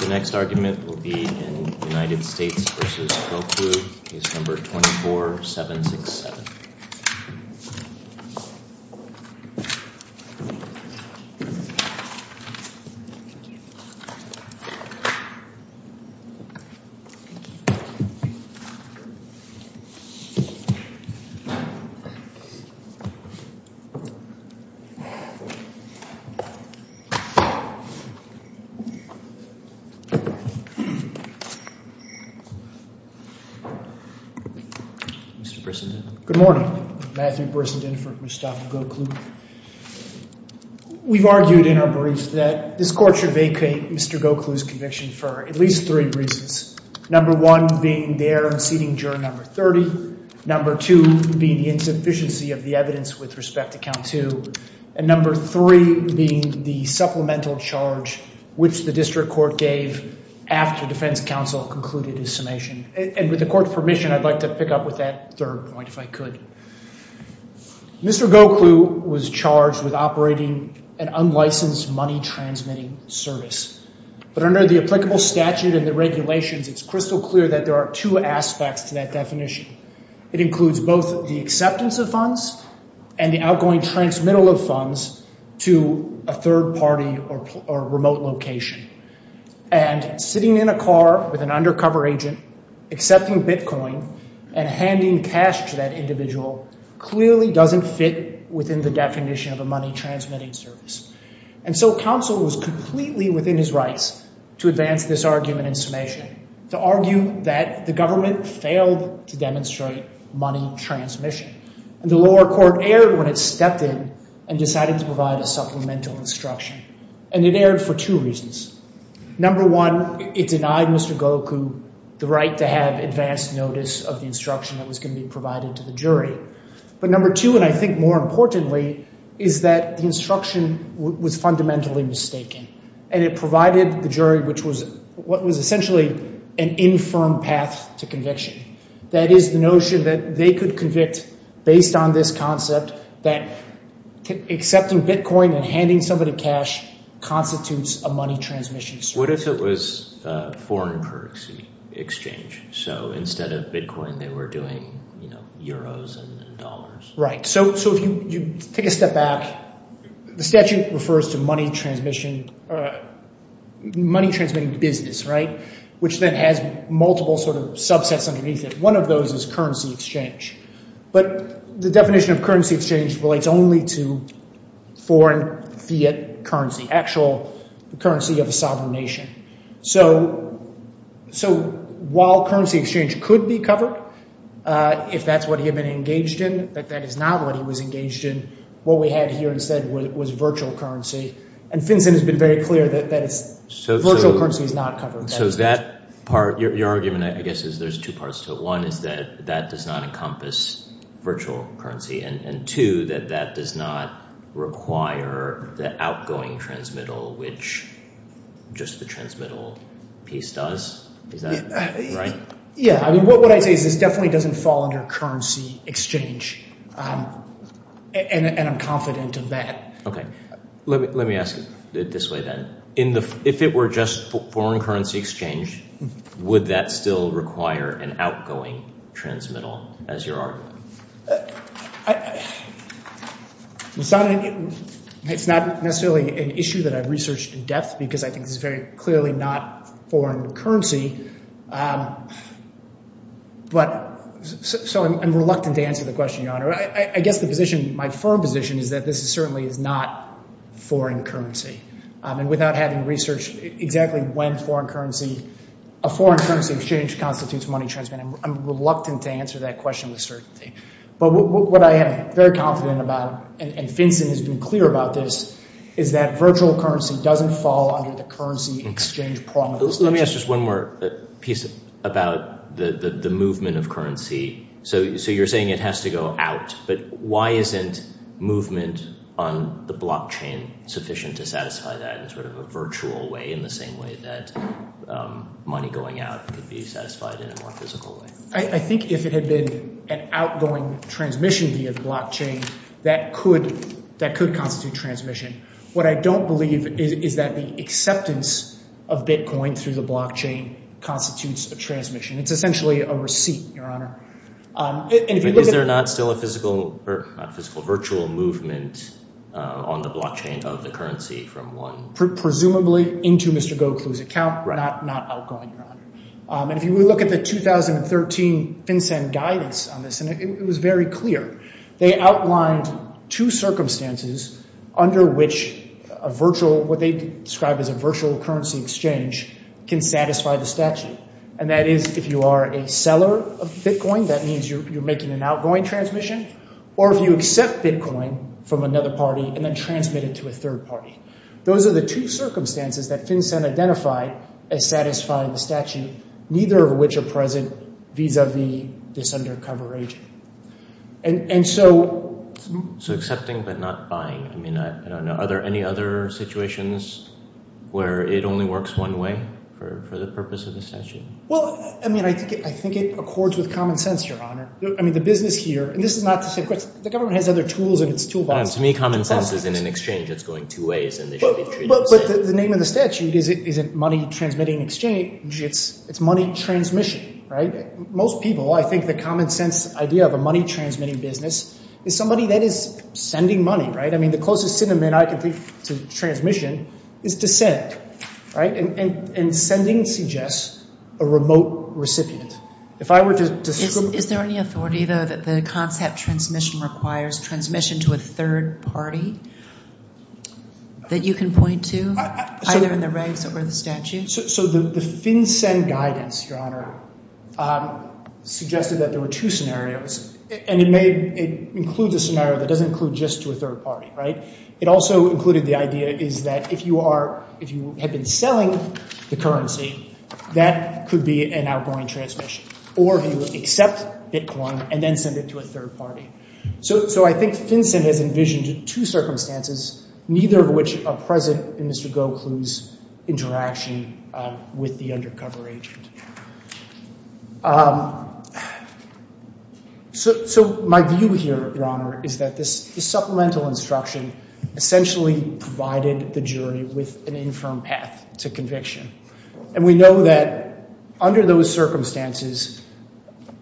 The next argument will be in United States v. Goklu, case number 24-767. Mr. Brissenden. Good morning. Matthew Brissenden for Mustafa Goklu. We've argued in our brief that this court should vacate Mr. Goklu's conviction for at least three reasons. Number one being the error in seating juror number 30, number two being the insufficiency of the evidence with respect to count two, and number three being the supplemental charge which the district court gave after defense counsel concluded his summation. And with the court's permission, I'd like to pick up with that third point if I could. Mr. Goklu was charged with operating an unlicensed money transmitting service. But under the applicable statute and the regulations, it's crystal clear that there are two aspects to that definition. It includes both the acceptance of funds and the outgoing transmittal of funds to a third party or remote location. And sitting in a car with an undercover agent, accepting Bitcoin and handing cash to that individual clearly doesn't fit within the definition of a money transmitting service. And so counsel was completely within his rights to advance this argument in summation, to argue that the government failed to demonstrate money transmission. And the lower court erred when it stepped in and decided to provide a supplemental instruction. And it erred for two reasons. Number one, it denied Mr. Goklu the right to have advanced notice of the instruction that was going to be provided to the jury. But number two, and I think more importantly, is that the instruction was fundamentally mistaken and it provided the jury which was what was essentially an infirm path to conviction. That is the notion that they could convict based on this concept that accepting Bitcoin and handing somebody cash constitutes a money transmission service. What if it was a foreign currency exchange? So instead of Bitcoin, they were doing euros and dollars? Right. So if you take a step back, the statute refers to money transmitting business, which then has multiple subsets underneath it. One of those is currency exchange. But the definition of currency exchange relates only to foreign fiat currency, actual currency of a sovereign nation. So while currency exchange could be covered, if that's what he had been engaged in, that that is not what he was engaged in, what we had here instead was virtual currency. And FinCEN has been very clear that virtual currency is not covered. So that part, your argument, I guess, is there's two parts to it. One is that that does not encompass virtual currency, and two, that that does not require the outgoing transmittal, which just the transmittal piece does. Is that right? Yeah. I mean, what I say is this definitely doesn't fall under currency exchange. And I'm confident of that. OK. Let me ask it this way, then. If it were just foreign currency exchange, would that still require an outgoing transmittal, as you're arguing? It's not necessarily an issue that I've researched in depth, because I think this is very clearly not foreign currency. But so I'm reluctant to answer the question, Your Honor. I guess the position, my firm position, is that this certainly is not foreign currency. And without having researched exactly when foreign currency, a foreign currency exchange constitutes money transmittal, I'm reluctant to answer that question with certainty. But what I am very confident about, and FinCEN has been clear about this, is that virtual currency doesn't fall under the currency exchange prong of this. Let me ask just one more piece about the movement of currency. So you're saying it has to go out. But why isn't movement on the blockchain sufficient to satisfy that in sort of a virtual way, in the same way that money going out could be satisfied in a more physical way? I think if it had been an outgoing transmission via the blockchain, that could constitute transmission. What I don't believe is that the acceptance of Bitcoin through the blockchain constitutes a transmission. It's essentially a receipt, Your Honor. Is there not still a physical, not physical, virtual movement on the blockchain of the currency from one? Presumably into Mr. Gokul's account, not outgoing, Your Honor. And if you look at the 2013 FinCEN guidance on this, and it was very clear, they outlined two circumstances under which a virtual, what they described as a virtual currency exchange, can satisfy the statute. And that is if you are a seller of Bitcoin, that means you're making an outgoing transmission, or if you accept Bitcoin from another party and then transmit it to a third party. Those are the two circumstances that FinCEN identified as satisfying the statute, neither of which are present vis-a-vis this undercover agent. And so... So accepting but not buying. I mean, I don't know. Are there any other situations where it only works one way for the purpose of the statute? Well, I mean, I think it accords with common sense, Your Honor. I mean, the business here, and this is not to say, of course, the government has other tools in its toolbox. To me, common sense is in an exchange that's going two ways and they should be treated the same. But the name of the statute isn't money transmitting exchange. It's money transmission, right? Most people, I think the common sense idea of a money transmitting business is somebody that is sending money, right? I mean, the closest synonym I can think to transmission is to send, right? And sending suggests a remote recipient. If I were to... Is there any authority, though, that the concept transmission requires transmission to a third party that you can point to, either in the regs or the statute? So the FinCEN guidance, Your Honor, suggested that there were two scenarios, and it may include the scenario that doesn't include just to a third party, right? It also included the idea is that if you are, if you have been selling the currency, that could be an outgoing transmission, or if you accept Bitcoin and then send it to a third party. So I think FinCEN has envisioned two circumstances, neither of which are present in Mr. Gokul's interaction with the undercover agent. So my view here, Your Honor, is that this supplemental instruction essentially provided the jury with an infirm path to conviction. And we know that under those circumstances,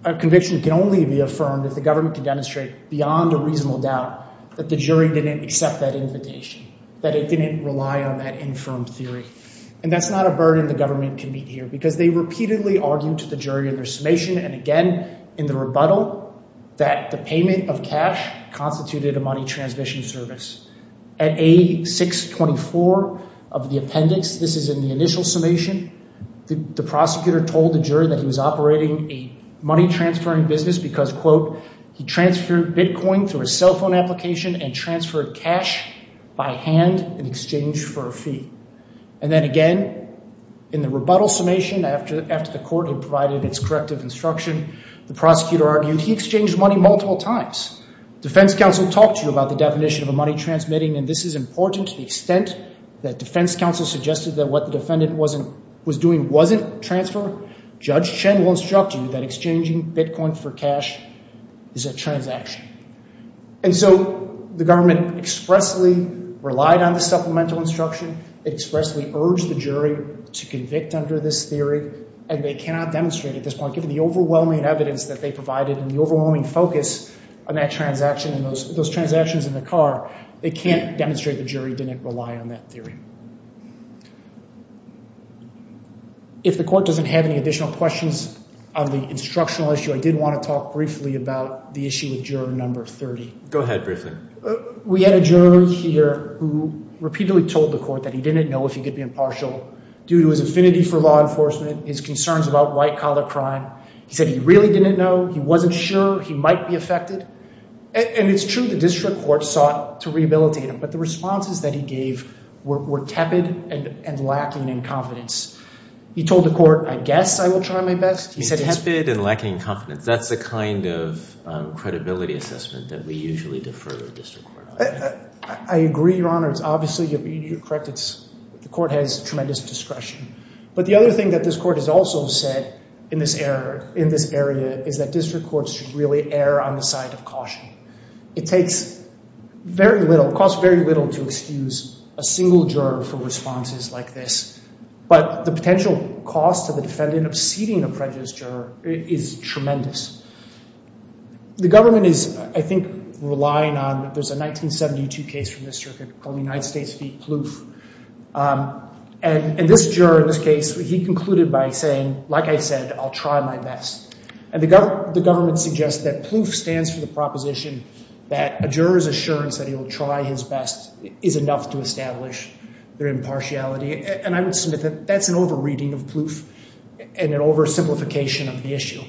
a conviction can only be affirmed if the government can demonstrate beyond a reasonable doubt that the jury didn't accept that invitation, that it didn't rely on that infirm theory. And that's not a burden the government can meet here, because they repeatedly argued to the jury in their summation, and again in the rebuttal, that the payment of cash constituted a money transmission service. At A624 of the appendix, this is in the initial summation, the prosecutor told the jury that he was operating a money transferring business because, quote, he transferred Bitcoin through a cell phone application and transferred cash by hand in exchange for a fee. And then again, in the rebuttal summation, after the court had provided its corrective instruction, the prosecutor argued he exchanged money multiple times. Defense counsel talked to you about the and this is important to the extent that defense counsel suggested that what the defendant was doing wasn't transfer. Judge Chen will instruct you that exchanging Bitcoin for cash is a transaction. And so the government expressly relied on the supplemental instruction, expressly urged the jury to convict under this theory, and they cannot demonstrate at this point, given the overwhelming evidence that they provided and the overwhelming focus on that transaction and those transactions in the car, they can't demonstrate the jury didn't rely on that theory. If the court doesn't have any additional questions on the instructional issue, I did want to talk briefly about the issue with juror number 30. Go ahead, briefly. We had a juror here who repeatedly told the court that he didn't know if he could be impartial due to his affinity for law enforcement, his concerns about white collar crime. He said he really didn't know, he wasn't sure he might be affected. And it's true the district court sought to rehabilitate him, but the responses that he gave were tepid and lacking in confidence. He told the court, I guess I will try my best. He said he's tepid and lacking confidence. That's the kind of credibility assessment that we usually defer to the district court. I agree, Your Honor. It's obviously, you're correct, the court has tremendous discretion. But the other thing that this court has also said in this area is that district courts should really err on the side of caution. It takes very little, costs very little to excuse a single juror for responses like this. But the potential cost to the defendant of seating a prejudiced juror is tremendous. The government is, I think, relying on, there's a 1972 case from this circuit called the United States v. Plouffe. And this juror, in this case, he concluded by saying, like I said, I'll try my best. And the government suggests that Plouffe stands for the proposition that a juror's assurance that he will try his best is enough to establish their impartiality. And I would submit that that's an over-reading of Plouffe and an over-simplification of the issue.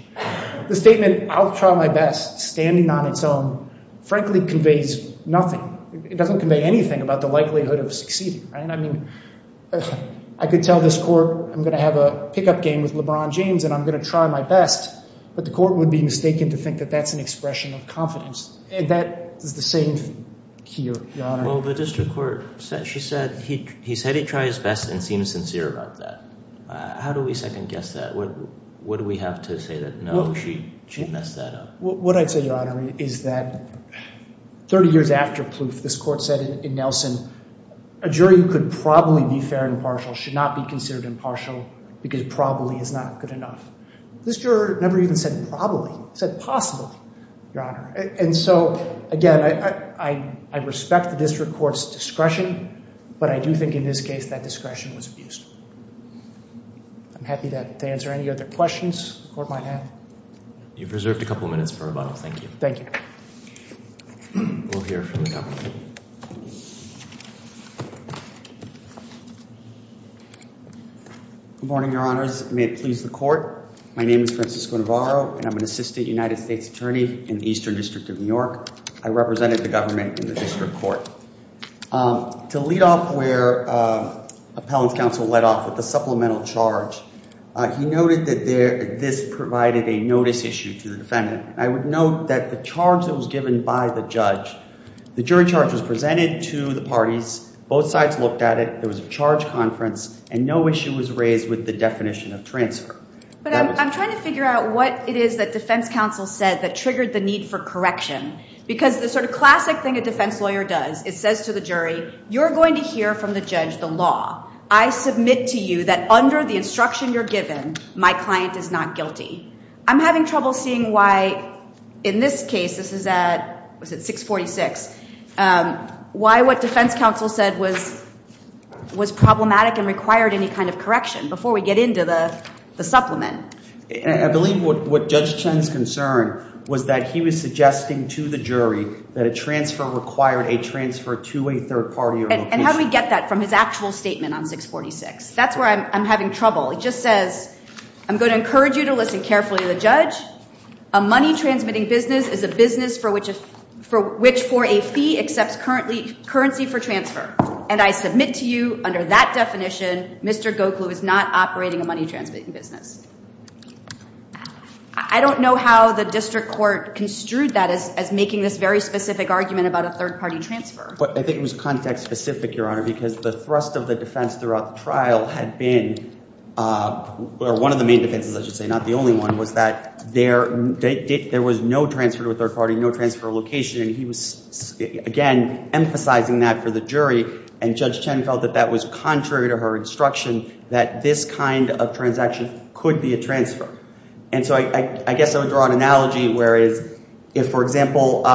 The statement, I'll try my best, standing on its own, frankly conveys nothing. It doesn't convey anything about the likelihood of succeeding, right? I mean, I could tell this court I'm going to have a pickup game with LeBron James and I'm going to try my best, but the court would be mistaken to think that that's an expression of confidence. And that is the same here, Your Honor. Well, the district court, she said, he said he'd try his best and seemed sincere about that. How do we second guess that? What do we have to say that, no, she messed that up? What I'd say, Your Honor, is that 30 years after Plouffe, this court said in Nelson, a jury who could probably be fair and impartial should not be considered impartial because probably is not good enough. This juror never even said probably, said possibly, Your Honor. And so, again, I respect the district court's discretion, but I do think in this case that discretion was abused. I'm happy to answer any other questions the court might have. You've reserved a couple of minutes for rebuttal. Thank you. Good morning, Your Honors. May it please the court. My name is Francisco Navarro and I'm an assistant United States attorney in the Eastern District of New York. I represented the government in the district court. To lead off where appellant's counsel led off with the supplemental charge, he noted that this provided a notice issue to the defendant. I would note that the charge that was given by the judge, the jury charge was presented to the parties, both sides looked at it, there was a charge conference, and no issue was raised with the definition of transfer. But I'm trying to figure out what it is that defense counsel said that triggered the need for correction. Because the sort of classic thing a defense lawyer does, it says to the jury, you're going to hear from the judge the law. I submit to you that under the instruction you're given, my client is not guilty. I'm having trouble seeing why in this case, this is at 646, why what defense counsel said was problematic and required any kind of correction before we get into the supplement. I believe what Judge Chen's concern was that he was suggesting to the jury that a transfer required a transfer to a third party. And how do we get that from his actual statement on 646? That's where I'm having trouble. He just says, I'm going to encourage you to listen carefully to the judge. A money-transmitting business is a business for which a fee accepts currency for transfer. And I submit to you under that definition, Mr. Gokul is not operating a money-transmitting business. I don't know how the district court construed that as making this very specific argument about a third-party transfer. I think it was context-specific, Your Honor, because the thrust of the defense throughout the trial had been, or one of the main defenses, I should say, not the only one, was that there was no transfer to a third party, no transfer location. And he was, again, emphasizing that for the jury. And Judge Chen felt that that was contrary to her instruction, that this kind of transaction could be a transfer. And so I guess I would draw an analogy, whereas if, for example,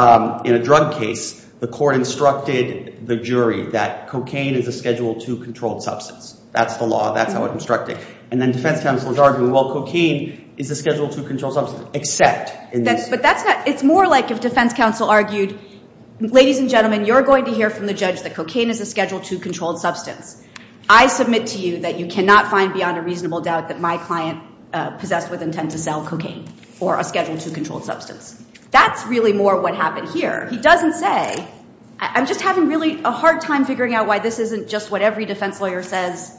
in a drug case, the court instructed the jury that cocaine is a Schedule 2 controlled substance. That's the law. That's how it's instructed. And then defense counsel is arguing, well, cocaine is a Schedule 2 controlled substance, except in this case. But it's more like if defense counsel argued, ladies and gentlemen, you're going to hear from the judge that cocaine is a Schedule 2 controlled substance. I submit to you that you cannot find beyond a reasonable doubt that my client possessed with intent to sell cocaine or a Schedule 2 controlled substance. That's really more what happened here. He doesn't say, I'm just having really a hard time figuring out why this isn't just what every defense lawyer says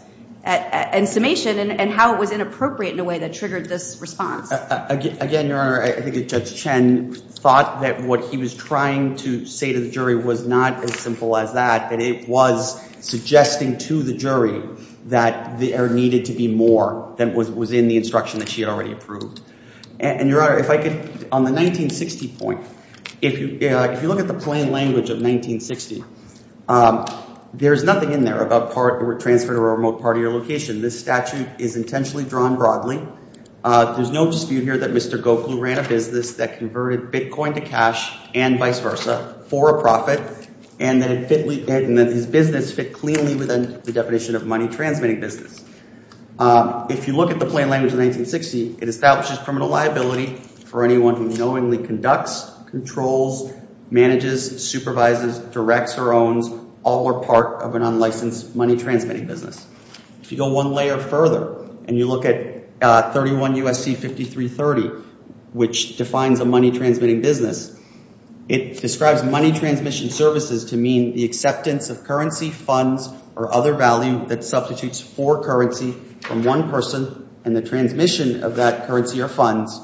in summation, and how it was inappropriate in a way that triggered this response. Again, Your Honor, I think that Judge Chen thought that what he was trying to say to the jury was not as simple as that, but it was suggesting to the jury that there needed to be more than was in the instruction that she had already approved. And Your Honor, if I could, on the 1960 point, if you look at the plain language of 1960, there's nothing in there about transfer to a remote part of your location. This statute is intentionally drawn broadly. There's no dispute here that Mr. Gokul ran a business that converted Bitcoin to cash and vice versa for a profit, and that his business fit cleanly within the definition of money transmitting business. If you look at the plain language of 1960, it establishes criminal liability for anyone who knowingly conducts, controls, manages, supervises, directs, or owns all or part of an unlicensed money transmitting business. If you go one layer further, and you look at 31 U.S.C. 5330, which defines a money transmitting business, it describes money transmission services to mean the acceptance of currency, funds, or other value that substitutes for currency from one person and the transmission of that currency or funds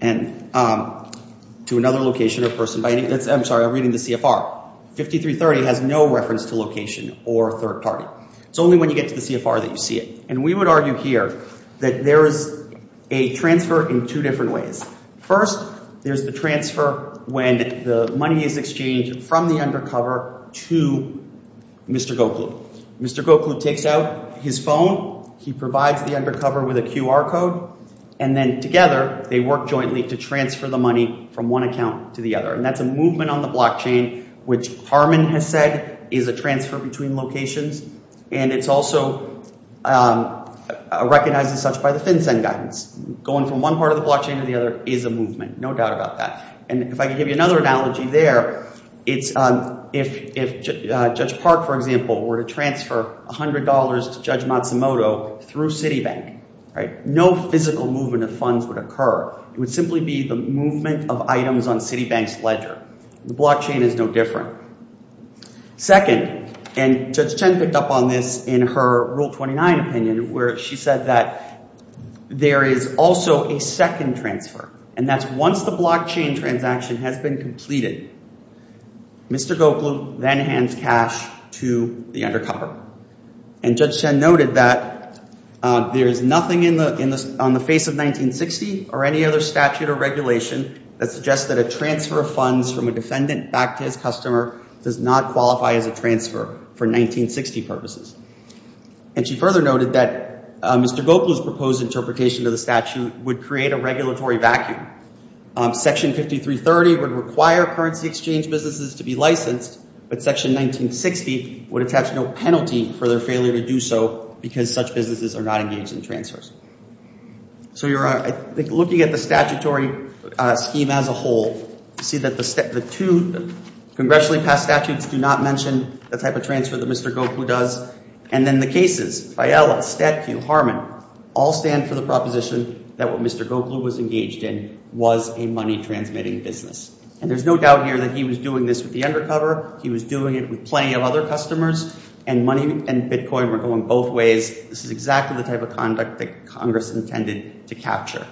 to another location or person. I'm sorry, I'm reading the CFR. 5330 has no reference to location or third party. It's only when you get to the CFR that you see it. And we would argue here that there is a transfer in two different ways. First, there's the transfer when the money is exchanged from the undercover to Mr. Gokul. Mr. Gokul takes out his phone, he provides the undercover with a QR code, and then together they work jointly to transfer the money from one account to the other. And that's a movement on the blockchain, which Harmon has said is a transfer between locations. And it's also recognized as such by the FinCEN guidance. Going from one part of the blockchain to the other is a movement, no doubt about that. And if I can give you another analogy there, it's if Judge Park, for example, were to transfer $100 to Judge Matsumoto through Citibank, no physical movement of funds would occur. It would simply be the movement of items on Citibank's ledger. The blockchain is no different. Second, and Judge Chen picked up on this in her Rule 29 opinion, where she said that there is also a second transfer, and that's once the blockchain transaction has been completed, Mr. Gokul then hands cash to the undercover. And Judge Chen noted that there is nothing on the face of 1960 or any other statute or regulation that suggests that a transfer of funds from a defendant back to his customer does not qualify as a transfer for 1960 purposes. And she further noted that Mr. Gokul's proposed interpretation of the statute would create a regulatory vacuum. Section 5330 would require currency exchange businesses to be licensed, but Section 1960 would attach no penalty for their failure to do so because such businesses are not engaged in transfers. So you're looking at the statutory scheme as a whole to see that the two congressionally passed statutes do not mention the type of transfer that Mr. Gokul does. And then the cases, Fiella, StatQ, Harmon, all stand for the proposition that what Mr. Gokul was engaged in was a money transmitting business. And there's no doubt here that he was doing this with the undercover. He was doing it with plenty of other customers, and money and Bitcoin were going both ways. This is exactly the type of conduct that Congress intended to capture.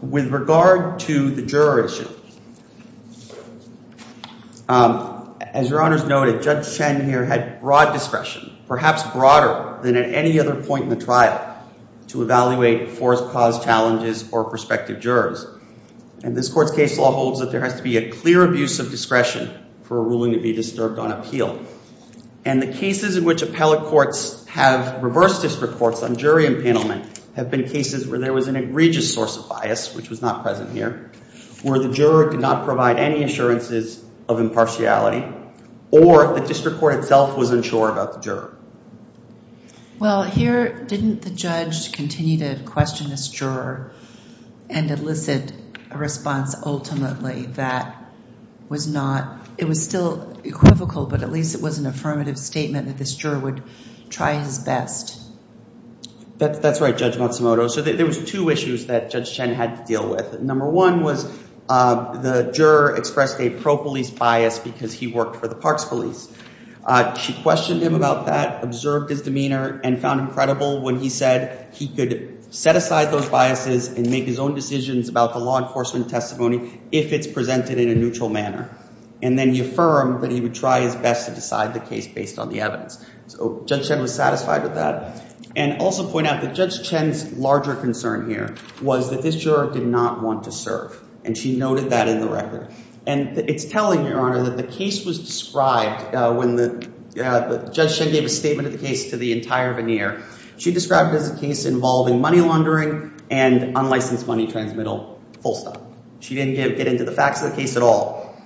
With regard to the juror issue, as your honors noted, Judge Chen here had broad discretion, perhaps broader than at any other point in the trial, to evaluate forced cause challenges or prospective jurors. And this court's case law holds that there has to be a clear abuse of discretion for a ruling to be disturbed on appeal. And the cases in which appellate courts have reversed this report on jury impanelment have been cases where there was an egregious source of bias, which was not present here, where the juror could not provide any assurances of impartiality, or the district court itself was unsure about the juror. Well, here, didn't the judge continue to question this juror and elicit a response ultimately that was not, it was still equivocal, but at least it was an affirmative statement that this juror would try his best? That's right, Judge Matsumoto. So there was two issues that Judge Chen had to deal with. Number one was the juror expressed a pro police bias because he worked for the parks police. She questioned him about that, observed his demeanor, and found him credible when he said he could set aside those biases and make his own decisions about the law enforcement testimony if it's presented in a neutral manner. And then he affirmed that he would try his best to decide the case based on the evidence. So Judge Chen was satisfied with that. And also point out that Judge Chen's larger concern here was that this juror did not want to serve, and she noted that in the record. And it's telling, Your Honor, that the case was described when Judge Chen gave a statement of the case to the entire veneer. She described it as a case involving money laundering and unlicensed money transmittal, full stop. She didn't get into the facts of the case at all.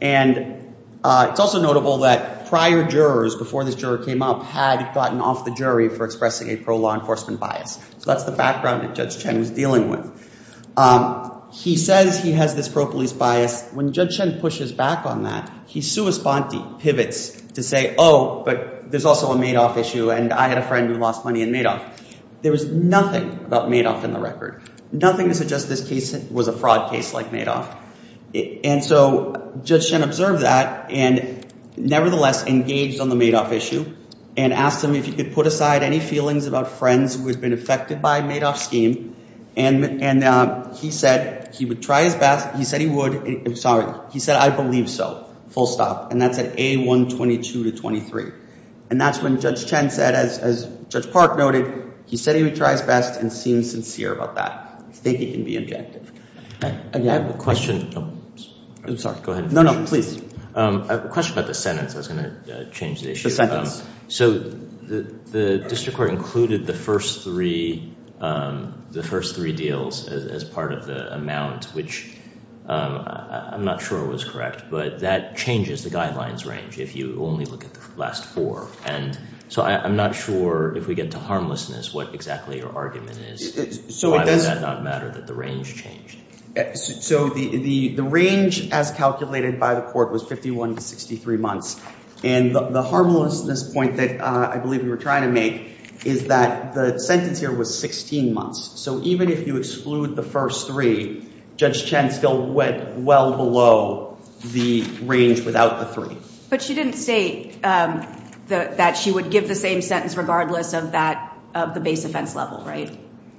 And it's also notable that prior jurors before this juror came up had gotten off the jury for expressing a pro-law enforcement bias. So that's the background that Judge Chen was dealing with. He says he has this pro-police bias. When Judge Chen pushes back on that, he sua sponte, pivots, to say, Oh, but there's also a Madoff issue, and I had a friend who lost money in Madoff. There was nothing about Madoff in the record. Nothing to suggest this case was a fraud case like Madoff. And so Judge Chen observed that and nevertheless engaged on the Madoff issue and asked him if he could put aside any feelings about friends who had been affected by Madoff's scheme. And he said he would try his best. He said he would. I'm sorry. He said, I believe so, full stop. And that's at A122 to 23. And that's when Judge Chen said, as Judge Park noted, he said he would try his best and seemed sincere about that. I think he can be objective. I have a question. I'm sorry. Go ahead. No, no, please. I have a question about the sentence. I So the district court included the first three, the first three deals as part of the amount, which I'm not sure was correct, but that changes the guidelines range if you only look at the last four. And so I'm not sure if we get to harmlessness, what exactly your argument is. So does that not matter that the range changed? So the range as calculated by the court was 51 to 63 months. And the harmlessness point that I believe we were trying to make is that the sentence here was 16 months. So even if you exclude the first three, Judge Chen still went well below the range without the three. But she didn't say that she would give the same sentence regardless of that, of the base offense level, right?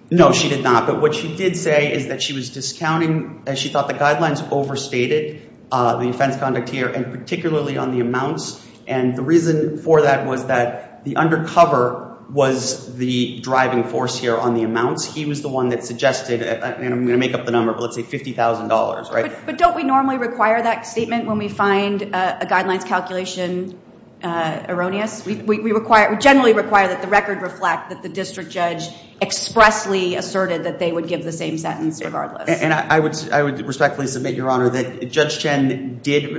No, she did not. But what she did say is that she was discounting as she thought the guidelines overstated the offense conduct here and particularly on the amounts. And the reason for that was that the undercover was the driving force here on the amounts. He was the one that suggested, and I'm going to make up the number, but let's say $50,000, right? But don't we normally require that statement when we find a guidelines calculation erroneous? We require, we generally require that the record reflect that the district judge expressly asserted that they would give the same sentence regardless. And I would respectfully submit, Your Honor, that Judge Chen did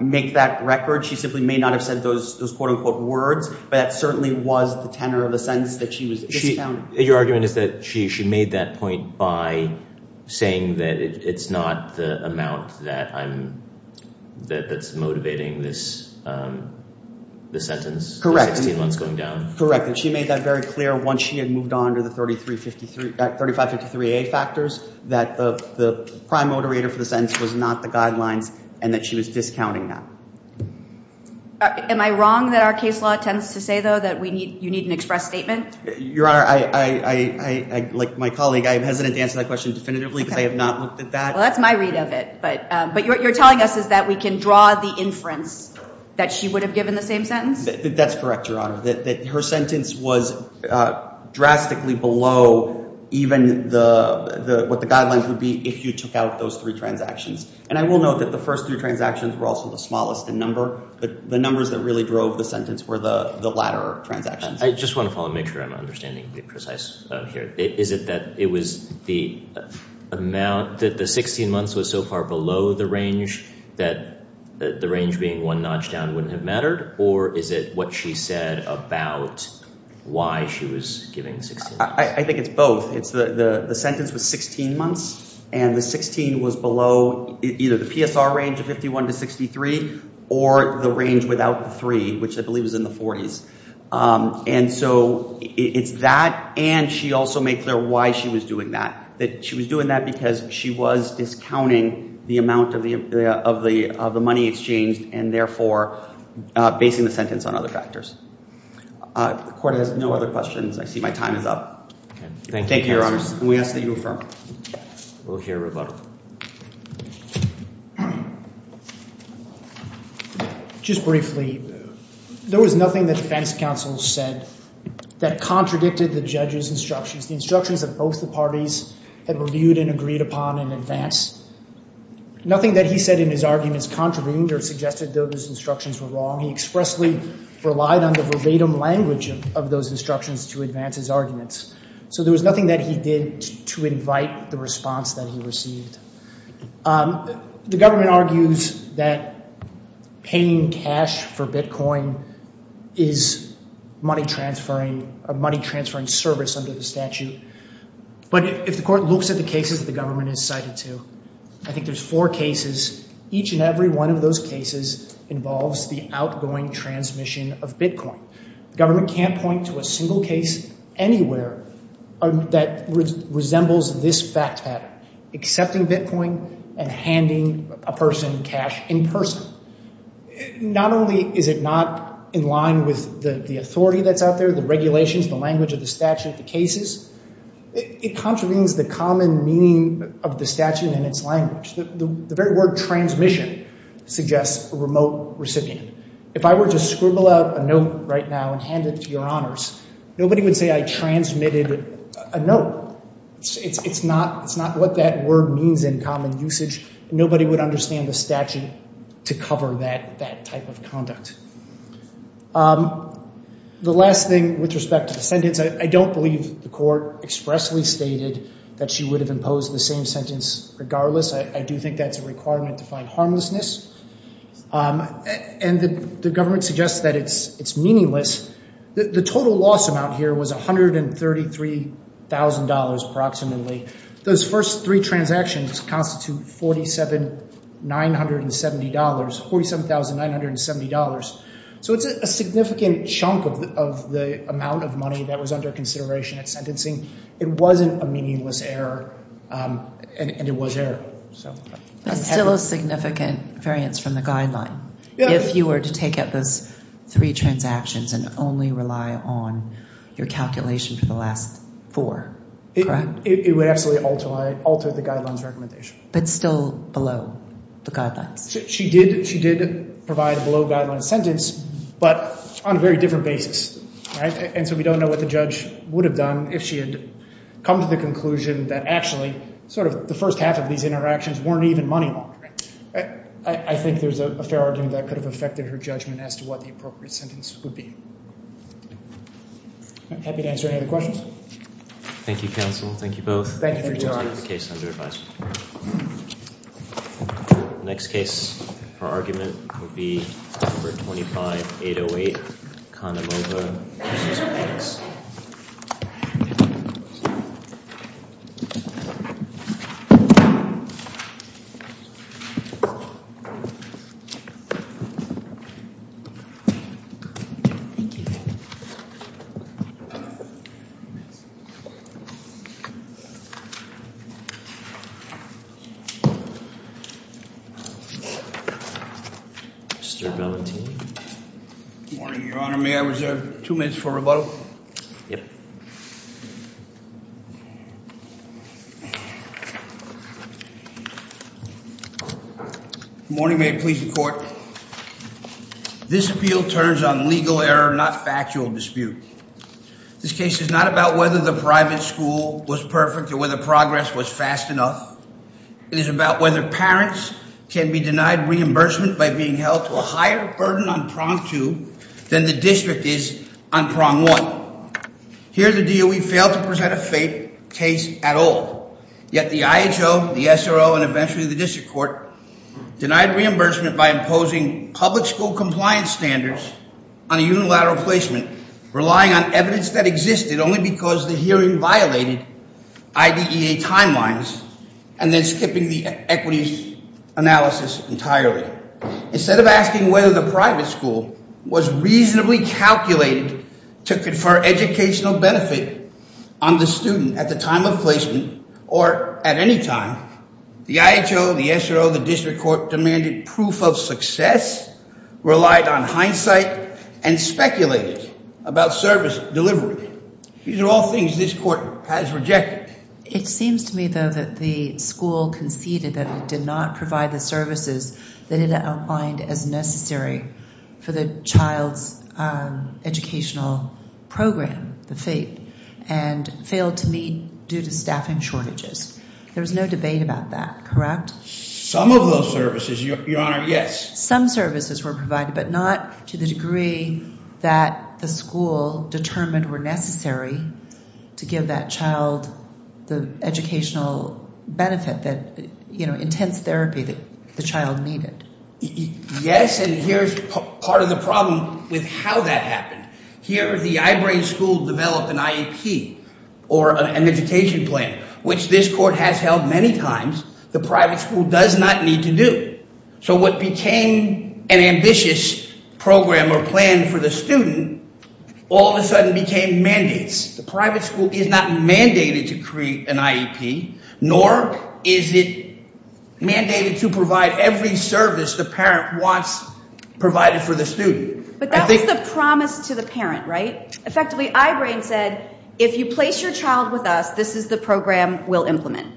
make that record. She simply may not have said those quote unquote words, but that certainly was the tenor of the sentence that she was discounting. Your argument is that she made that point by saying that it's not the amount that's motivating this sentence, the 16 months going down? Correct. And she made that very clear once she had moved on to the 3553A factors, that the prime moderator for the sentence was not the guidelines and that she was discounting that. Am I wrong that our case law tends to say, though, that you need an express statement? Your Honor, like my colleague, I am hesitant to answer that question definitively because I have not looked at that. Well, that's my read of it. But what you're telling us is that we can draw the inference that she would have given the sentence? That's correct, Your Honor. Her sentence was drastically below even what the guidelines would be if you took out those three transactions. And I will note that the first three transactions were also the smallest in number, but the numbers that really drove the sentence were the latter transactions. I just want to make sure I'm understanding precise here. Is it that it was the amount that the 16 months was so far below the range that the range being one notch down wouldn't have mattered? Or is it what she said about why she was giving 16 months? I think it's both. The sentence was 16 months, and the 16 was below either the PSR range of 51 to 63 or the range without the three, which I believe is in the 40s. And so it's that. And she also made clear why she was doing that. That she was doing that because she was discounting the amount of the money exchanged and therefore basing the sentence on other factors. The court has no other questions. I see my time is up. Thank you, Your Honor. And we ask that you affirm. We'll hear a rebuttal. Just briefly, there was nothing the defense counsel said that contradicted the judge's instructions, the instructions that both the parties had reviewed and agreed upon in advance. Nothing that he said in his arguments contravened or suggested those instructions were wrong. He expressly relied on the verbatim language of those instructions to advance his arguments. So there was nothing that he did to invite the response that he received. The government argues that paying cash for Bitcoin is a money-transferring service under the statute. But if the court looks at the cases that the government has cited, too, I think there's four cases. Each and every one of those cases involves the outgoing transmission of Bitcoin. The government can't point to a single case anywhere that resembles this fact pattern, accepting Bitcoin and handing a person cash in person. Not only is it not in line with the authority that's out there, the regulations, the language of the statute, the cases, it contravenes the common meaning of the statute and its language. The very word transmission suggests a remote recipient. If I were to scribble out a note right now and hand it to your honors, nobody would say I transmitted a note. It's not what that word means in common usage. Nobody would understand the statute to cover that type of conduct. The last thing with respect to the sentence, I don't believe the court expressly stated that she would have imposed the same sentence regardless. I do think that's a requirement to find harmlessness. And the government suggests that it's meaningless. The total loss amount here was $133,000 approximately. Those first three transactions constitute $47,970. So it's a significant chunk of the amount of money that was under consideration at sentencing. It wasn't a meaningless error and it was error. It's still a significant variance from the guideline. If you were to take up those three transactions and only rely on your calculation for the last four, correct? It would absolutely alter the guidelines recommendation. But still below the guidelines. She did provide a below guideline sentence, but on a very different basis, right? And so we don't know what the judge would have done if she had come to the conclusion that actually sort of the first half of these interactions weren't even money laundering. I think there's a fair argument that could have affected her judgment as to what the appropriate sentence would be. Happy to answer any other questions. Thank you, counsel. Thank you both. Thank you for joining us. Next case for argument would be number 25808. Good morning, Your Honor. May I reserve two minutes for rebuttal? Good morning. May it please the court. This appeal turns on legal error, not factual dispute. This case is not about whether the private school was perfect or whether progress was fast enough. It is about whether parents can be denied reimbursement by being held to a higher burden on prong two than the district is on prong one. Here the DOE failed to present a faith case at all. Yet the IHO, the SRO, and eventually the district court denied reimbursement by opposing public school compliance standards on a unilateral placement, relying on evidence that existed only because the hearing violated IDEA timelines and then skipping the equities analysis entirely. Instead of asking whether the private school was reasonably calculated to confer educational benefit on the student at the time of placement or at any time, the IHO, the SRO, the district court demanded proof of success, relied on hindsight, and speculated about service delivery. These are all things this court has rejected. It seems to me, though, that the school conceded that it did not provide the services that it outlined as necessary for the child's educational program, the FAPE, and failed to meet due to staffing shortages. There's no debate about that, correct? Some of those services, your honor, yes. Some services were provided, but not to the degree that the school determined were necessary to give that child the educational benefit that, you know, intense therapy that the child needed. Yes, and here's part of the problem with how that happened. Here the I-BRAIN school developed an IEP or an education plan, which this court has held many times the private school does not need to do. So what became an ambitious program or plan for the student all of a sudden became mandates. The private school is not mandated to create an IEP, nor is it mandated to provide every service the parent wants provided for the student. But that was the promise to the parent, right? Effectively, I-BRAIN said, if you place your child with us, this is the program we'll implement.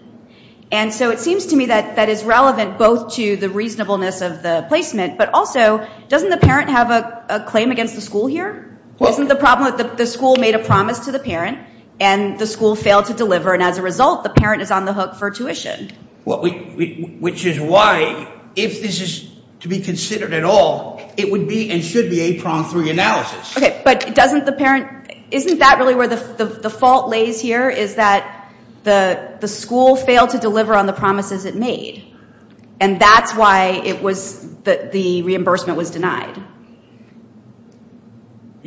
And so it seems to me that that is relevant both to the reasonableness of the placement, but also doesn't the parent have a claim against the school here? Isn't the problem that the school made a promise to the parent and the school failed to deliver, and as a result, the parent is on the hook for tuition? Which is why, if this is to be considered at all, it would be and should be a three-pronged analysis. Okay, but doesn't the parent, isn't that really where the fault lays here? Is that the school failed to deliver on the promises it made, and that's why it was that the reimbursement was denied?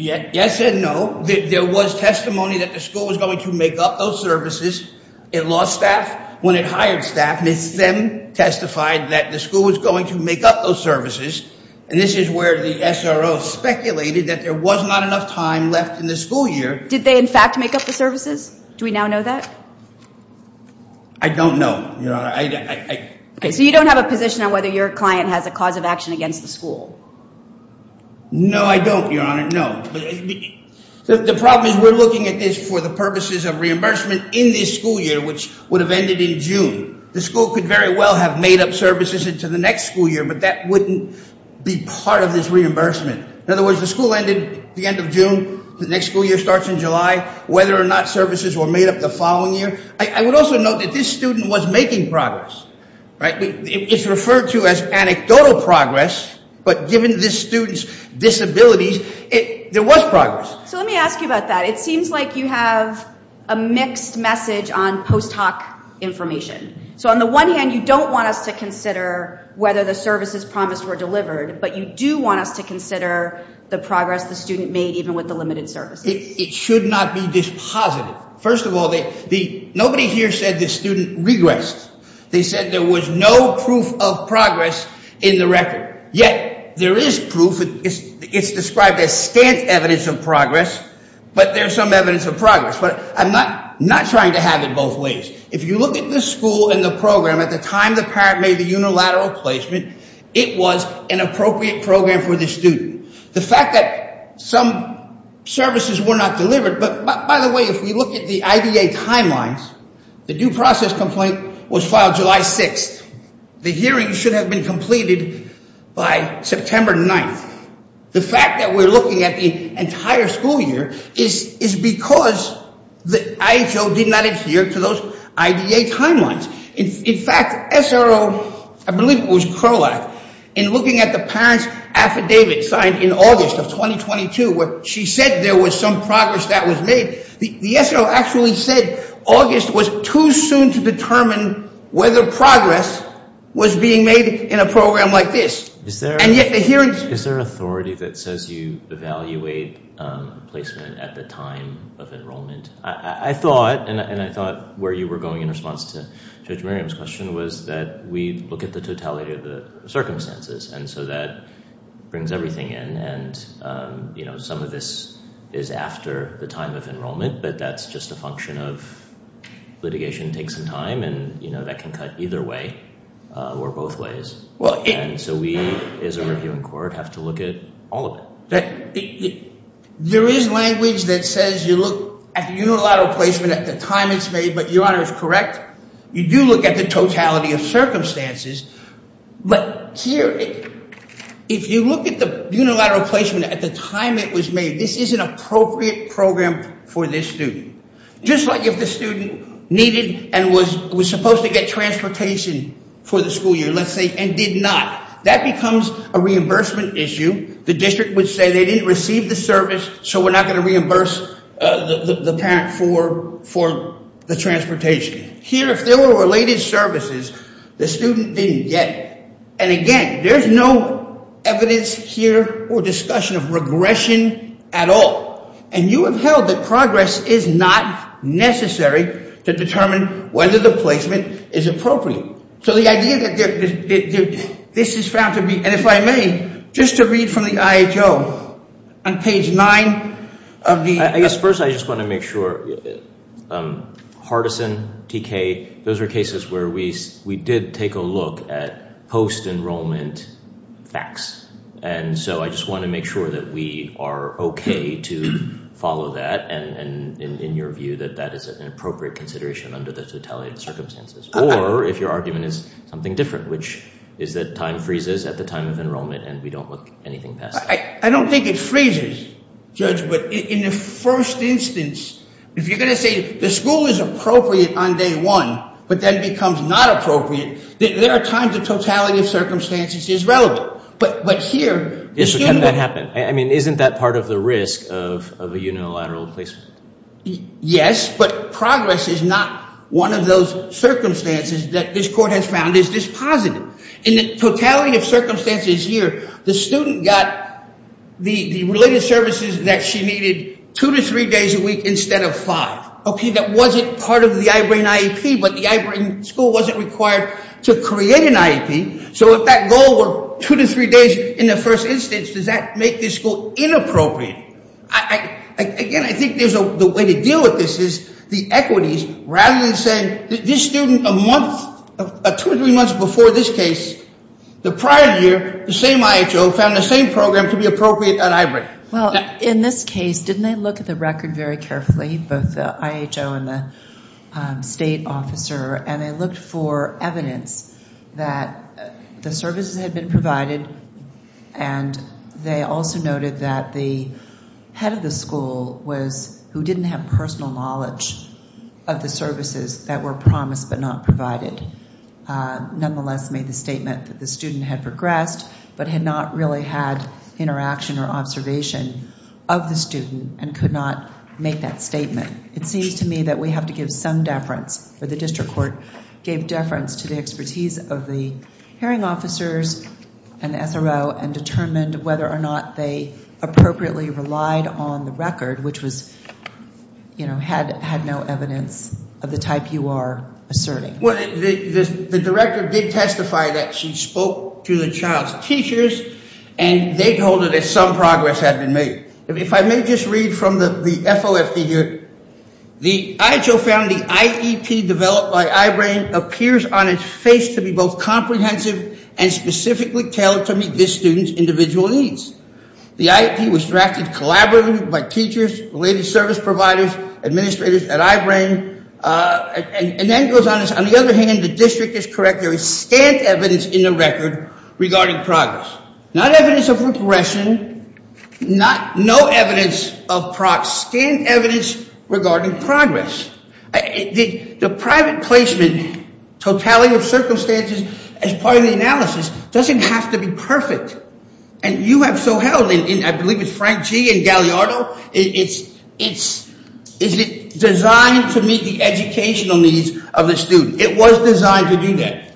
Yes and no. There was testimony that the school was going to make up those services. It lost staff when it hired staff. It then testified that the school was going to make up those services, and this is where the SRO speculated that there was not enough time left in the school year. Did they in fact make up the services? Do we now know that? I don't know, Your Honor. So you don't have a position on whether your client has a cause of action against the school? No, I don't, Your Honor, no. The problem is we're looking at this for the purposes of reimbursement in this school year, which would have ended in June. The school could very well have made up services into the next school year, but that wouldn't be part of this reimbursement. In other words, the school ended the end of June, the next school year starts in July, whether or not services were made up the following year. I would also note that this student was making progress, right? It's referred to as anecdotal progress, but given this student's disabilities, there was progress. So let me ask you about that. It seems like you have a mixed message on post-hoc information. So on the one hand, you don't want us to consider whether the services promised were delivered, but you do want us to consider the progress the student made even with the limited services. It should not be dispositive. First of all, nobody here said the student regressed. They said there was no proof of progress in the record. Yet there is proof. It's described as stant evidence of progress, but there's some evidence of progress. But I'm not trying to have it both ways. If you look at the school and the program at the time the parent made the unilateral placement, it was an appropriate program for the student. The fact that some services were not delivered, but by the way, if we look at the IDA timelines, the due process complaint was filed July 6th. The hearing should have been completed by September 9th. The fact that we're looking at the entire school year is because the IHO did not adhere to those IDA timelines. In fact, SRO, I believe it was Crowlack, in looking at the parent's affidavit signed in August of 2022, where she said there was some progress that was made, the SRO actually said August was too soon to determine whether progress was being made in a program like this. Is there an authority that says you evaluate placement at the time of enrollment? I thought, and I thought where you were going in response to Judge Miriam's question, was that we look at the totality of the circumstances. And so that brings everything in. And some of this is after the time of enrollment, but that's just a function of litigation takes some time and that can cut either way or both ways. And so we, as a court, have to look at all of it. There is language that says you look at the unilateral placement at the time it's made, but your honor is correct. You do look at the totality of circumstances, but here, if you look at the unilateral placement at the time it was made, this is an appropriate program for this student. Just like if the student needed and was supposed to get transportation for the school year, let's say, and did not, that becomes a reimbursement issue. The district would say they didn't receive the service, so we're not going to reimburse the parent for the transportation. Here, if there were related services, the student didn't get it. And again, there's no evidence here or discussion of regression at all. And you have held that progress is not necessary to determine whether the placement is appropriate. So the idea that this is found to be, and if I may, just to read from the IHO on page nine of the... I guess first I just want to make sure, Hardison, TK, those are cases where we did take a look at post-enrollment facts. And so I just want to make sure that we are okay to follow that, and in your view, that that is an appropriate consideration under the totality of circumstances. Or if your argument is something different, which is that time freezes at the time of enrollment and we don't look anything past that. I don't think it freezes, Judge, but in the first instance, if you're going to say the school is appropriate on day one, but then becomes not appropriate, there are times the totality of circumstances is relevant. But here... Can that happen? I mean, isn't that part of the risk of a unilateral placement? Yes, but progress is not one of those circumstances that this court has found is dispositive. In the totality of circumstances here, the student got the related services that she needed two to three days a week instead of five. Okay, that wasn't part of the I-BRAIN IEP, but the I-BRAIN school wasn't required to create an IEP. So if that goal were two to three days in the first instance, does that make this school inappropriate? Again, I think there's a way to deal with this is the equities rather than saying this student a month, two or three months before this case, the prior year, the same IHO found the same program to be appropriate at I-BRAIN. Well, in this case, didn't they look at the record very carefully, both the IHO and the state officer, and they looked for evidence that the services had been provided. And they also noted that the head of the school was... who didn't have personal knowledge of the services that were promised but not provided. Nonetheless, made the statement that the student had progressed but had not really had interaction or observation of the student and could not make that statement. It seems to me that we have to give some deference or the district court gave deference to the expertise of the hearing officers and SRO and determined whether or not they appropriately relied on the record, which was, you know, had no evidence of the type you are asserting. The director did testify that she spoke to the child's teachers and they told her that some had been made. If I may just read from the FOF here, the IHO found the IEP developed by I-BRAIN appears on its face to be both comprehensive and specifically tailored to meet this student's individual needs. The IEP was drafted collaboratively by teachers, related service providers, administrators at I-BRAIN, and that goes on. On the other hand, the district is correct. There is no evidence of progression, no evidence of PROC, scanned evidence regarding progress. The private placement totality of circumstances as part of the analysis doesn't have to be perfect and you have so held, and I believe it's Frank G. and Gagliardo, it's designed to meet the of the student. It was designed to do that.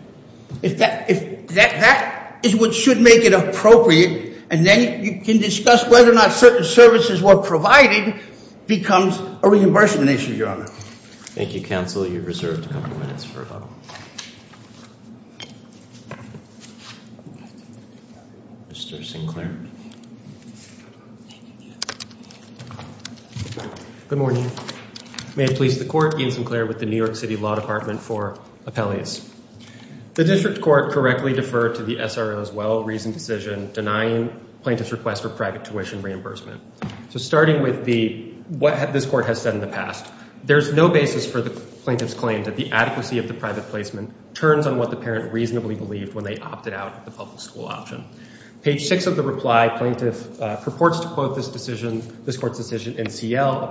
If that is what should make it appropriate, and then you can discuss whether or not certain services were provided becomes a reimbursement issue, your honor. Thank you, counsel. You're reserved a couple minutes for a vote. Mr. Sinclair. Good morning. May it please the court, Ian Sinclair with the New York City Law Department for Appellees. The district court correctly deferred to the SRO's well-reasoned decision denying plaintiff's request for private tuition reimbursement. So starting with what this court has said in the past, there's no basis for the plaintiff's claim that the adequacy of the private placement turns on what the parent reasonably believed when they opted out of the public school option. Page six of the reply, plaintiff purports to quote this decision, this court's decision in CL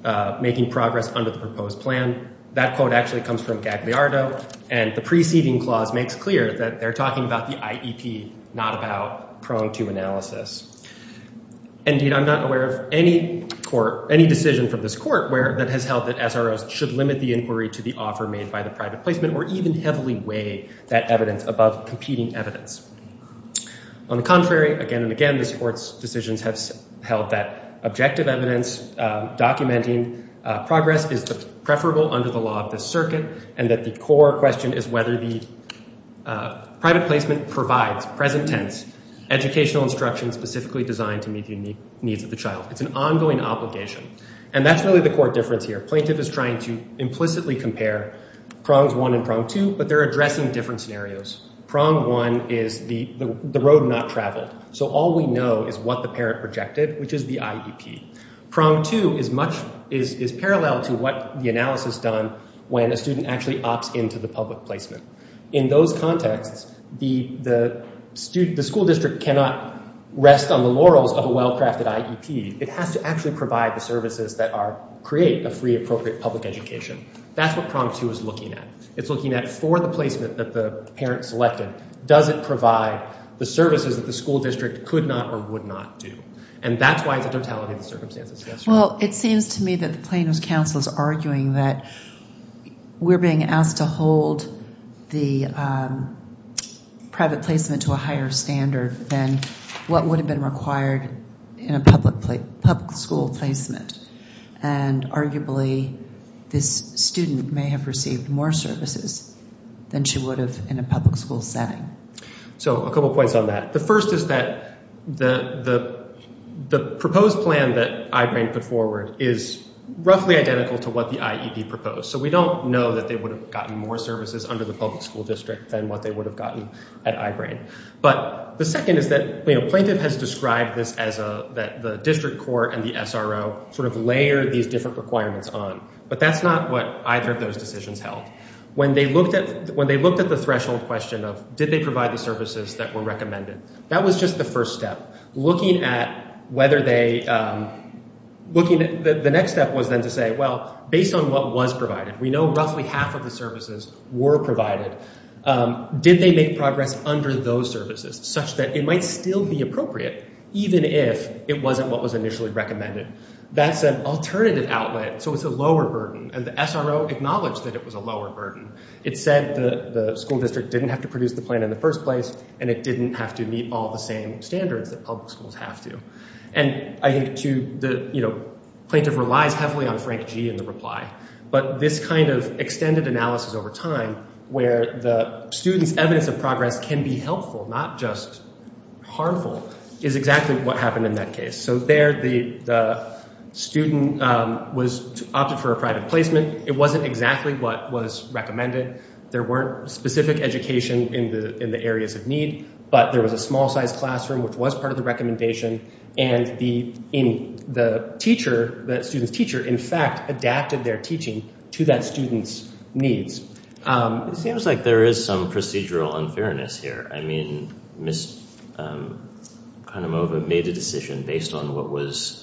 about making progress under the proposed plan. That quote actually comes from Gagliardo and the preceding clause makes clear that they're talking about the IEP, not about prong to analysis. Indeed, I'm not aware of any court, any decision from this court where that has held that SROs should limit the inquiry to the offer made by the private placement or even heavily weigh that evidence above competing evidence. On the contrary, again and again, this court's decisions have held that objective evidence documenting progress is preferable under the law of this circuit and that the core question is whether the private placement provides present tense educational instruction specifically designed to meet the unique needs of the child. It's an ongoing obligation and that's really the core difference here. Plaintiff is trying to implicitly compare prongs one and prong two, but they're addressing different scenarios. Prong one is the road not traveled. So all we know is what the parent projected, which is the IEP. Prong two is parallel to what the analysis done when a student actually opts into the public placement. In those contexts, the school district cannot rest on the laurels of a well-crafted IEP. It has to actually provide the services that create a free appropriate public education. That's what prong two is looking at. It's looking at for the placement that the parent selected, does it provide the services that the school district could not or would not do? And that's why it's a totality of the circumstances. Well, it seems to me that the plaintiff's counsel is arguing that we're being asked to hold the private placement to a higher standard than what would have been required in a public school placement. And arguably, this student may have received more services than she would have in a public school setting. So a couple points on that. The first is that the proposed plan that I-BRAIN put forward is roughly identical to what the IEP proposed. So we don't know that they would have gotten more services under the public school district than what they would have gotten at I-BRAIN. But the second is that the plaintiff has described this as that the district court and the SRO sort of layered these different requirements on. But that's not what either of those decisions held. When they looked at the threshold question of did they provide the services that were recommended, that was just the first step. The next step was then to say, well, based on what was provided, we know roughly half of the services were provided. Did they make progress under those services such that it might still be appropriate even if it wasn't what was initially recommended? That's an alternative outlet. So it's a lower burden. And the SRO acknowledged that it was a lower burden. It said the school district didn't have to produce the plan in the first place and it didn't have to meet all the same standards that public schools have to. And I think the plaintiff relies heavily on Frank G. in the reply. But this kind of extended analysis over time where the student's evidence of progress can be helpful, not just harmful, is exactly what happened in that case. So there the student opted for a private placement. It wasn't exactly what was recommended. There weren't specific education in the areas of need, but there was a small size classroom which was part of the recommendation. And the student's teacher, in fact, adapted their teaching to that student's needs. It seems like there is some procedural unfairness here. I mean, Ms. Kahnemove made a decision based on what was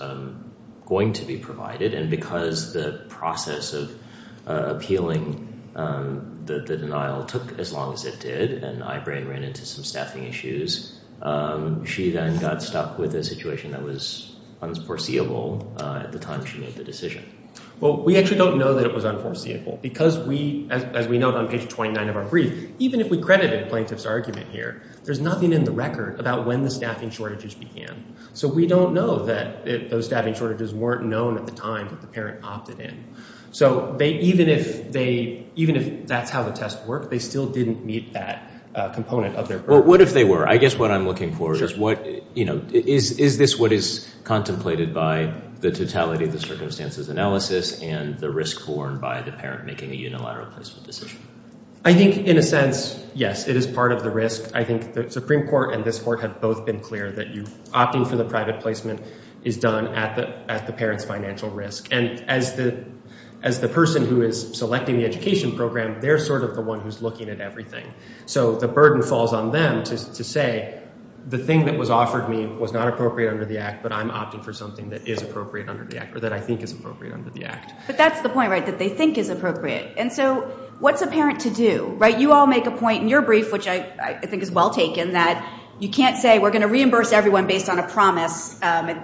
going to be provided. And because the process of appealing the denial took as long as it did, and Ibrahim ran into some staffing issues, she then got stuck with a situation that was unforeseeable at the time she made the decision. Well, we actually don't know that it was unforeseeable because we, as we note on page 29 of our brief, even if we credited plaintiff's argument here, there's nothing in the record about when the staffing shortages began. So we don't know that those staffing shortages weren't known at the time that the parent opted in. So even if that's how the test worked, they still didn't meet that component of their purpose. Well, what if they were? I guess what I'm looking for is what, you know, is this what is contemplated by the totality of the circumstances analysis and the risk borne by the parent making a unilateral placement decision? I think in a sense, yes, it is part of the risk. I think the Supreme Court and this Court have both been clear that you, opting for the private placement is done at the parent's financial risk. And as the person who is selecting the education program, they're sort of the one who's looking at everything. So the burden falls on them to say the thing that was offered me was not appropriate under the Act, but I'm opting for something that is appropriate under the Act, or that I think is appropriate under the Act. But that's the point, right, that they think is appropriate. And so what's a parent to do, right? You all make a point in your brief, which I think is well taken, that you can't say we're going to reimburse everyone based on a promise.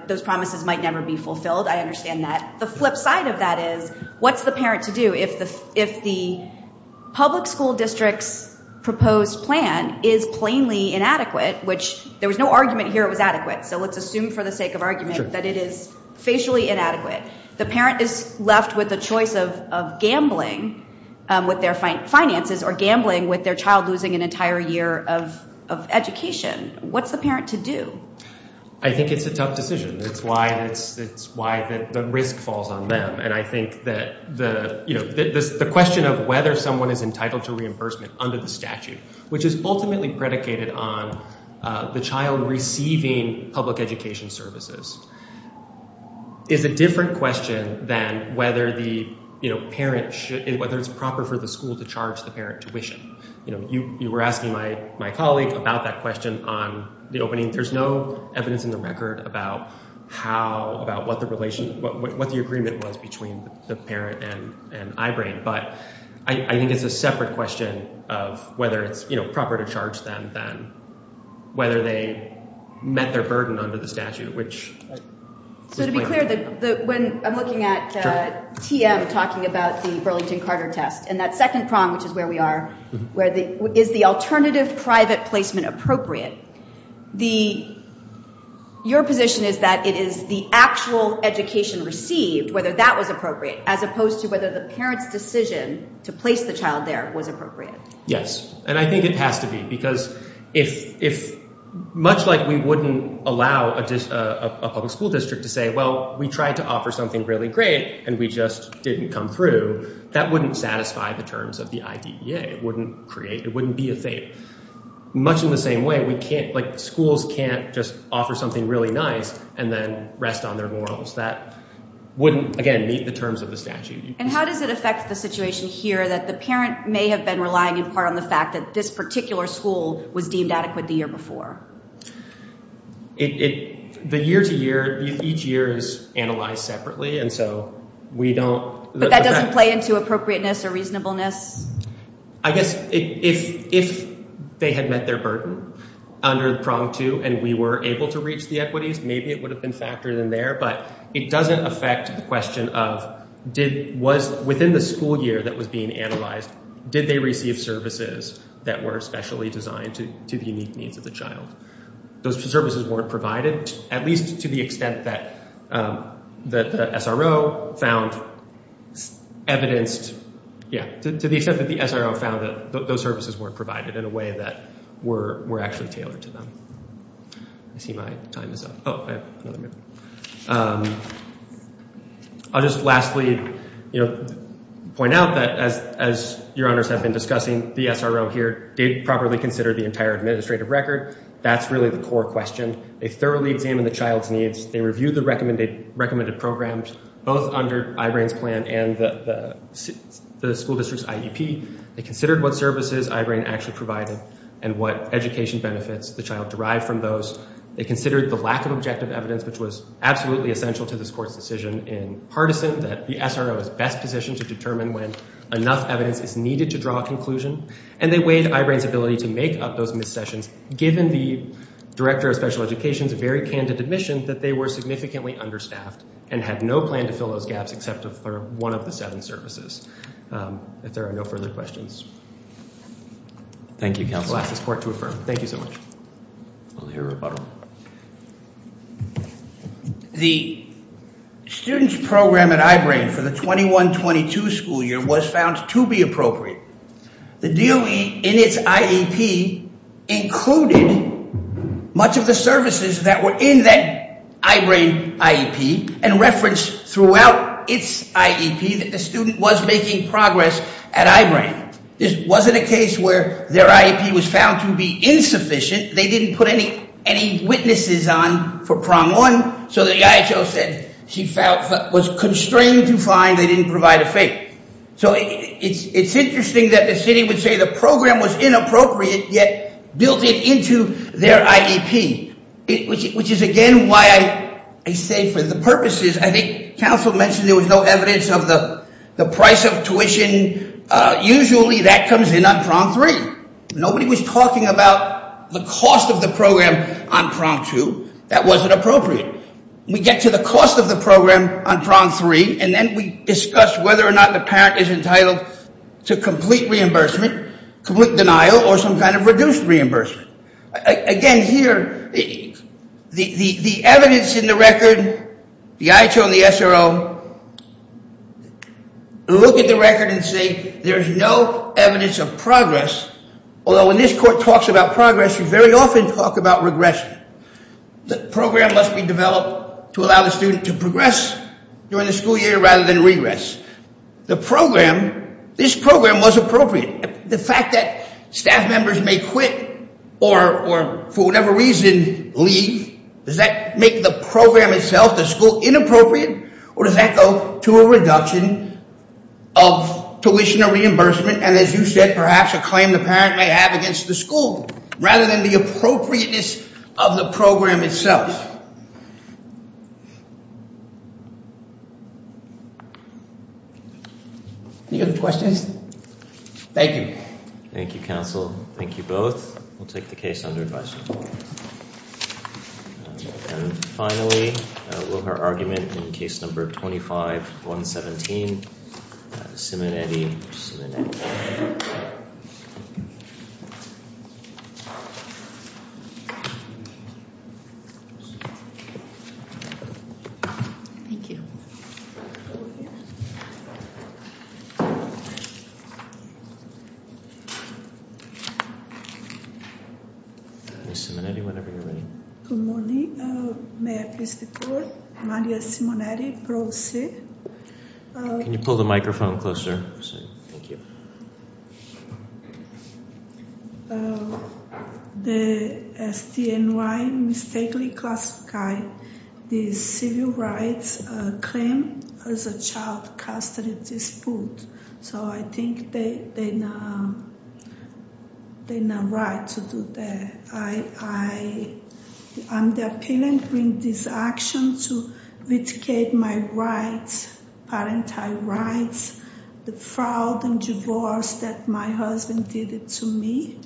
Those promises might never be fulfilled. I understand that. The flip side of that is, what's the parent to do if the public school district's proposed plan is plainly inadequate, which there was no argument here it was adequate. So let's assume for the sake of argument that it is facially inadequate. The parent is left with the choice of gambling with their finances or gambling with their child losing an entire year of education. What's the parent to do? I think it's a tough decision. That's why the risk falls on them. And I think that the question of whether someone is entitled to reimbursement under the statute, which is ultimately predicated on the child receiving public education services, is a different question than whether it's proper for the school to charge the parent tuition. You were asking my colleague about that question on the opening. There's no evidence in the record about what the agreement was between the parent and Ibrane. But I think it's a separate question of whether it's proper to charge them than whether they met their burden under the statute. So to be clear, when I'm looking at TM talking about the Burlington Carter test and that second prong, which is where we are, is the alternative private placement appropriate, your position is that it is the actual education received, whether that was appropriate, as opposed to whether the parent's decision to place the child there was appropriate. Yes. And I think it has to be, because much like we wouldn't allow a public school district to say, well, we tried to offer something really great, and we just didn't come through, that wouldn't satisfy the terms of the IDEA. It wouldn't create, it wouldn't be a thing. Much in the same way, we can't, like, schools can't just offer something really nice and then rest on their morals. That wouldn't, again, meet the terms of the statute. And how does it affect the situation here that the parent may have been relying in part on the fact that this particular school was deemed adequate the year before? The year-to-year, each year is analyzed separately, and so we don't... But that doesn't play into appropriateness or reasonableness? I guess if they had met their burden under the prong two, and we were able to reach the equities, maybe it would have been factored in there, but it doesn't affect the question of, was within the school year that was being analyzed, did they receive services that were specially designed to the unique needs of the Those services weren't provided, at least to the extent that the SRO found evidenced, yeah, to the extent that the SRO found that those services weren't provided in a way that were actually tailored to them. I see my time is up. Oh, I have another minute. I'll just lastly, you know, point out that as your honors have been discussing, the SRO here did properly consider the entire administrative record. That's really the core question. They thoroughly examined the child's needs. They reviewed the recommended programs, both under Ibrane's plan and the school district's IEP. They considered what services Ibrane actually provided and what education benefits the child derived from those. They considered the lack of objective evidence, which was absolutely essential to this court's decision in partisan, that the SRO is best to determine when enough evidence is needed to draw a conclusion. And they weighed Ibrane's ability to make up those missed sessions, given the director of special education's very candid admission that they were significantly understaffed and had no plan to fill those gaps except for one of the seven services. If there are no further questions. Thank you, counsel. I'll ask this was found to be appropriate. The DOE in its IEP included much of the services that were in that Ibrane IEP and referenced throughout its IEP that the student was making progress at Ibrane. This wasn't a case where their IEP was found to be insufficient. They didn't put any witnesses on prong one. So the IHO said she was constrained to find they didn't provide a fate. So it's interesting that the city would say the program was inappropriate, yet built it into their IEP, which is again why I say for the purposes, I think counsel mentioned there was no evidence of the price of tuition. Usually that comes in on prong three. Nobody was talking about the cost of the on prong two. That wasn't appropriate. We get to the cost of the program on prong three and then we discuss whether or not the parent is entitled to complete reimbursement, complete denial, or some kind of reduced reimbursement. Again here, the evidence in the record, the IHO and the SRO look at the record and say there's no evidence of progress, although when this court talks about progress, we very often talk about regression. The program must be developed to allow the student to progress during the school year rather than regress. The program, this program was appropriate. The fact that staff members may quit or for whatever reason leave, does that make the program itself, the school, inappropriate or does that go to a reduction of tuition or reimbursement and as you said, perhaps a claim the parent may have against the school rather than the appropriateness of the program itself. Any other questions? Thank you. Thank you, counsel. Thank you both. We'll take the case under advisory. And finally, a lower argument in case number 25-117, Simonetti. Thank you. Ms. Simonetti, whenever you're ready. Good morning, may I please the court? Maria Simonetti, Pro Se. Can you pull the microphone closer? Thank you. The STNY mistakenly classified the civil rights claim as a child custody dispute. So I think they're not right to do that. I'm the appealant in this action to litigate my rights, parental rights, the fraud and divorce that my husband did to me.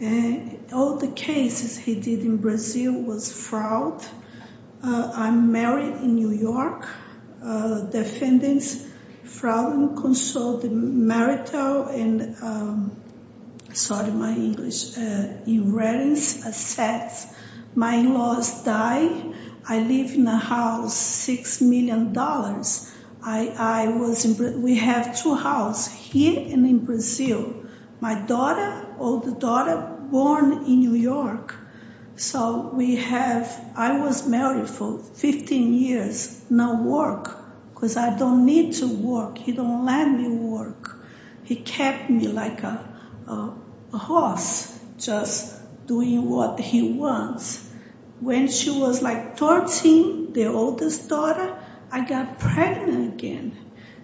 And all the cases he did in Brazil was fraud. I'm married in New York. The defendants fraud and consoled the marital and, sorry my English, erroneous assets. My in-laws die. I live in a house, six million dollars. We have two house here and in Brazil. My daughter, older daughter, born in New York. So we have, I was married for 15 years, no work because I don't to work. He don't let me work. He kept me like a horse, just doing what he wants. When she was like 13, the oldest daughter, I got pregnant again.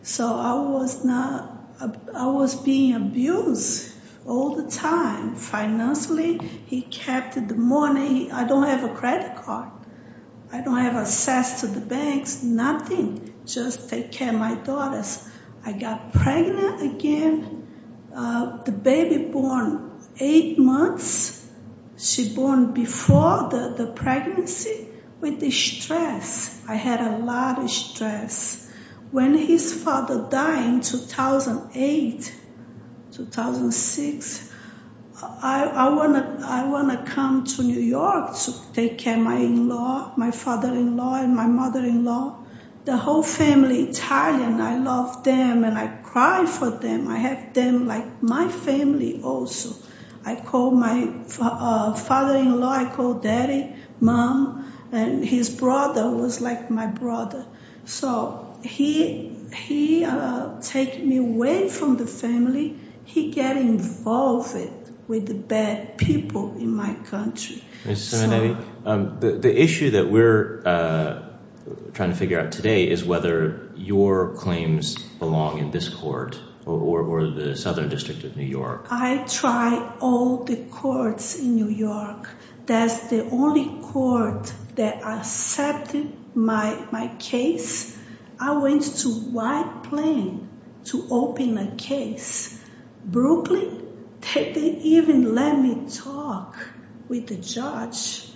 So I was not, I was being abused all the time. Financially, he kept the money. I don't have a credit card. I don't have access to the banks, nothing. Just take care of my daughters. I got pregnant again. The baby born eight months. She born before the pregnancy with the stress. I had a lot of stress. When his father died in 2008, 2006, I want to come to New York to take care of my in-law, my father-in-law and my mother-in-law. The whole family Italian, I love them and I cry for them. I have them like my family also. I call my father-in-law, I call daddy, mom and his brother was like my brother. So he take me away from the family. He get involved with the bad people in my country. The issue that we're trying to figure out today is whether your claims belong in this court or the Southern District of New York. I tried all the courts in New York. That's the only court that accepted my case. I went to White Plain to open a case. Brooklyn, they didn't even let me talk with the judge.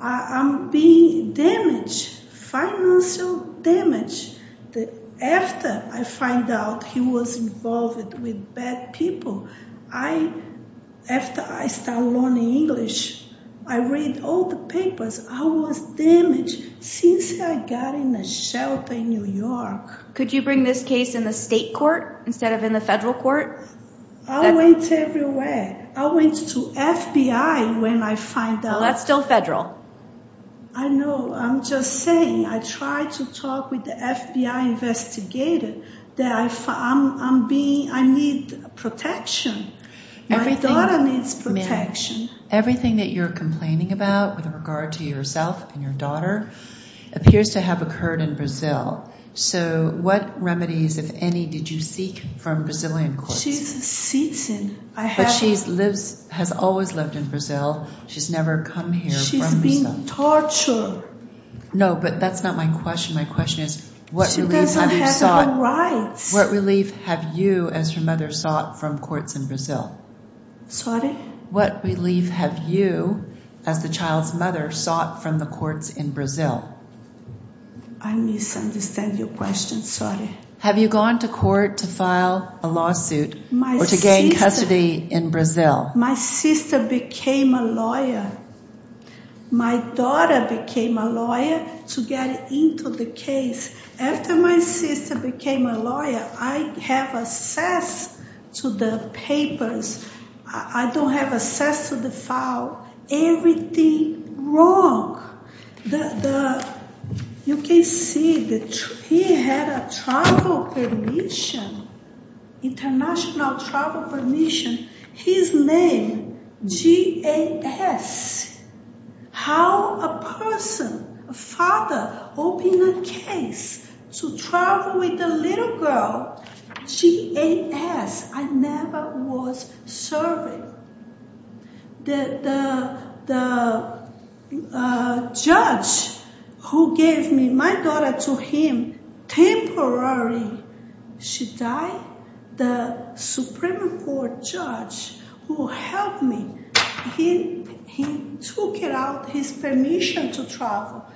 I'm being damaged, financial damage. After I find out he was involved with bad people, after I start learning English, I read all the papers. I was damaged since I got in a shelter in New York. Could you bring this case in the state court instead of in the federal court? I went everywhere. I went to FBI when I find out. That's still federal. I know. I'm just saying, I tried to talk with the FBI investigator that I need protection. My daughter needs protection. Everything that you're complaining about with regard to yourself and your daughter appears to have occurred in Brazil. What remedies, if any, did you seek from Brazilian courts? She's a citizen. But she has always lived in Brazil. She's never come here from Brazil. She's being tortured. No, but that's not my question. My question is, what relief have you sought? She doesn't have her rights. What relief have you, as her mother, sought from courts in Brazil? Sorry? What relief have you, as the child's mother, sought from the courts in Brazil? I misunderstand your question. Sorry. Have you gone to court to file a lawsuit or to gain custody in Brazil? My sister became a lawyer. My daughter became a lawyer to get into the case. After my sister became a lawyer, I have access to the papers. I don't have access to the file. Everything wrong. You can see that he had a travel permission, international travel permission. His name, G.A.S. How a person, a father, opened a case to travel with a little girl, G.A.S. I never was serving. The judge who gave me my daughter to him, temporarily, she died. The Supreme Court judge who helped me, he took out his permission to travel.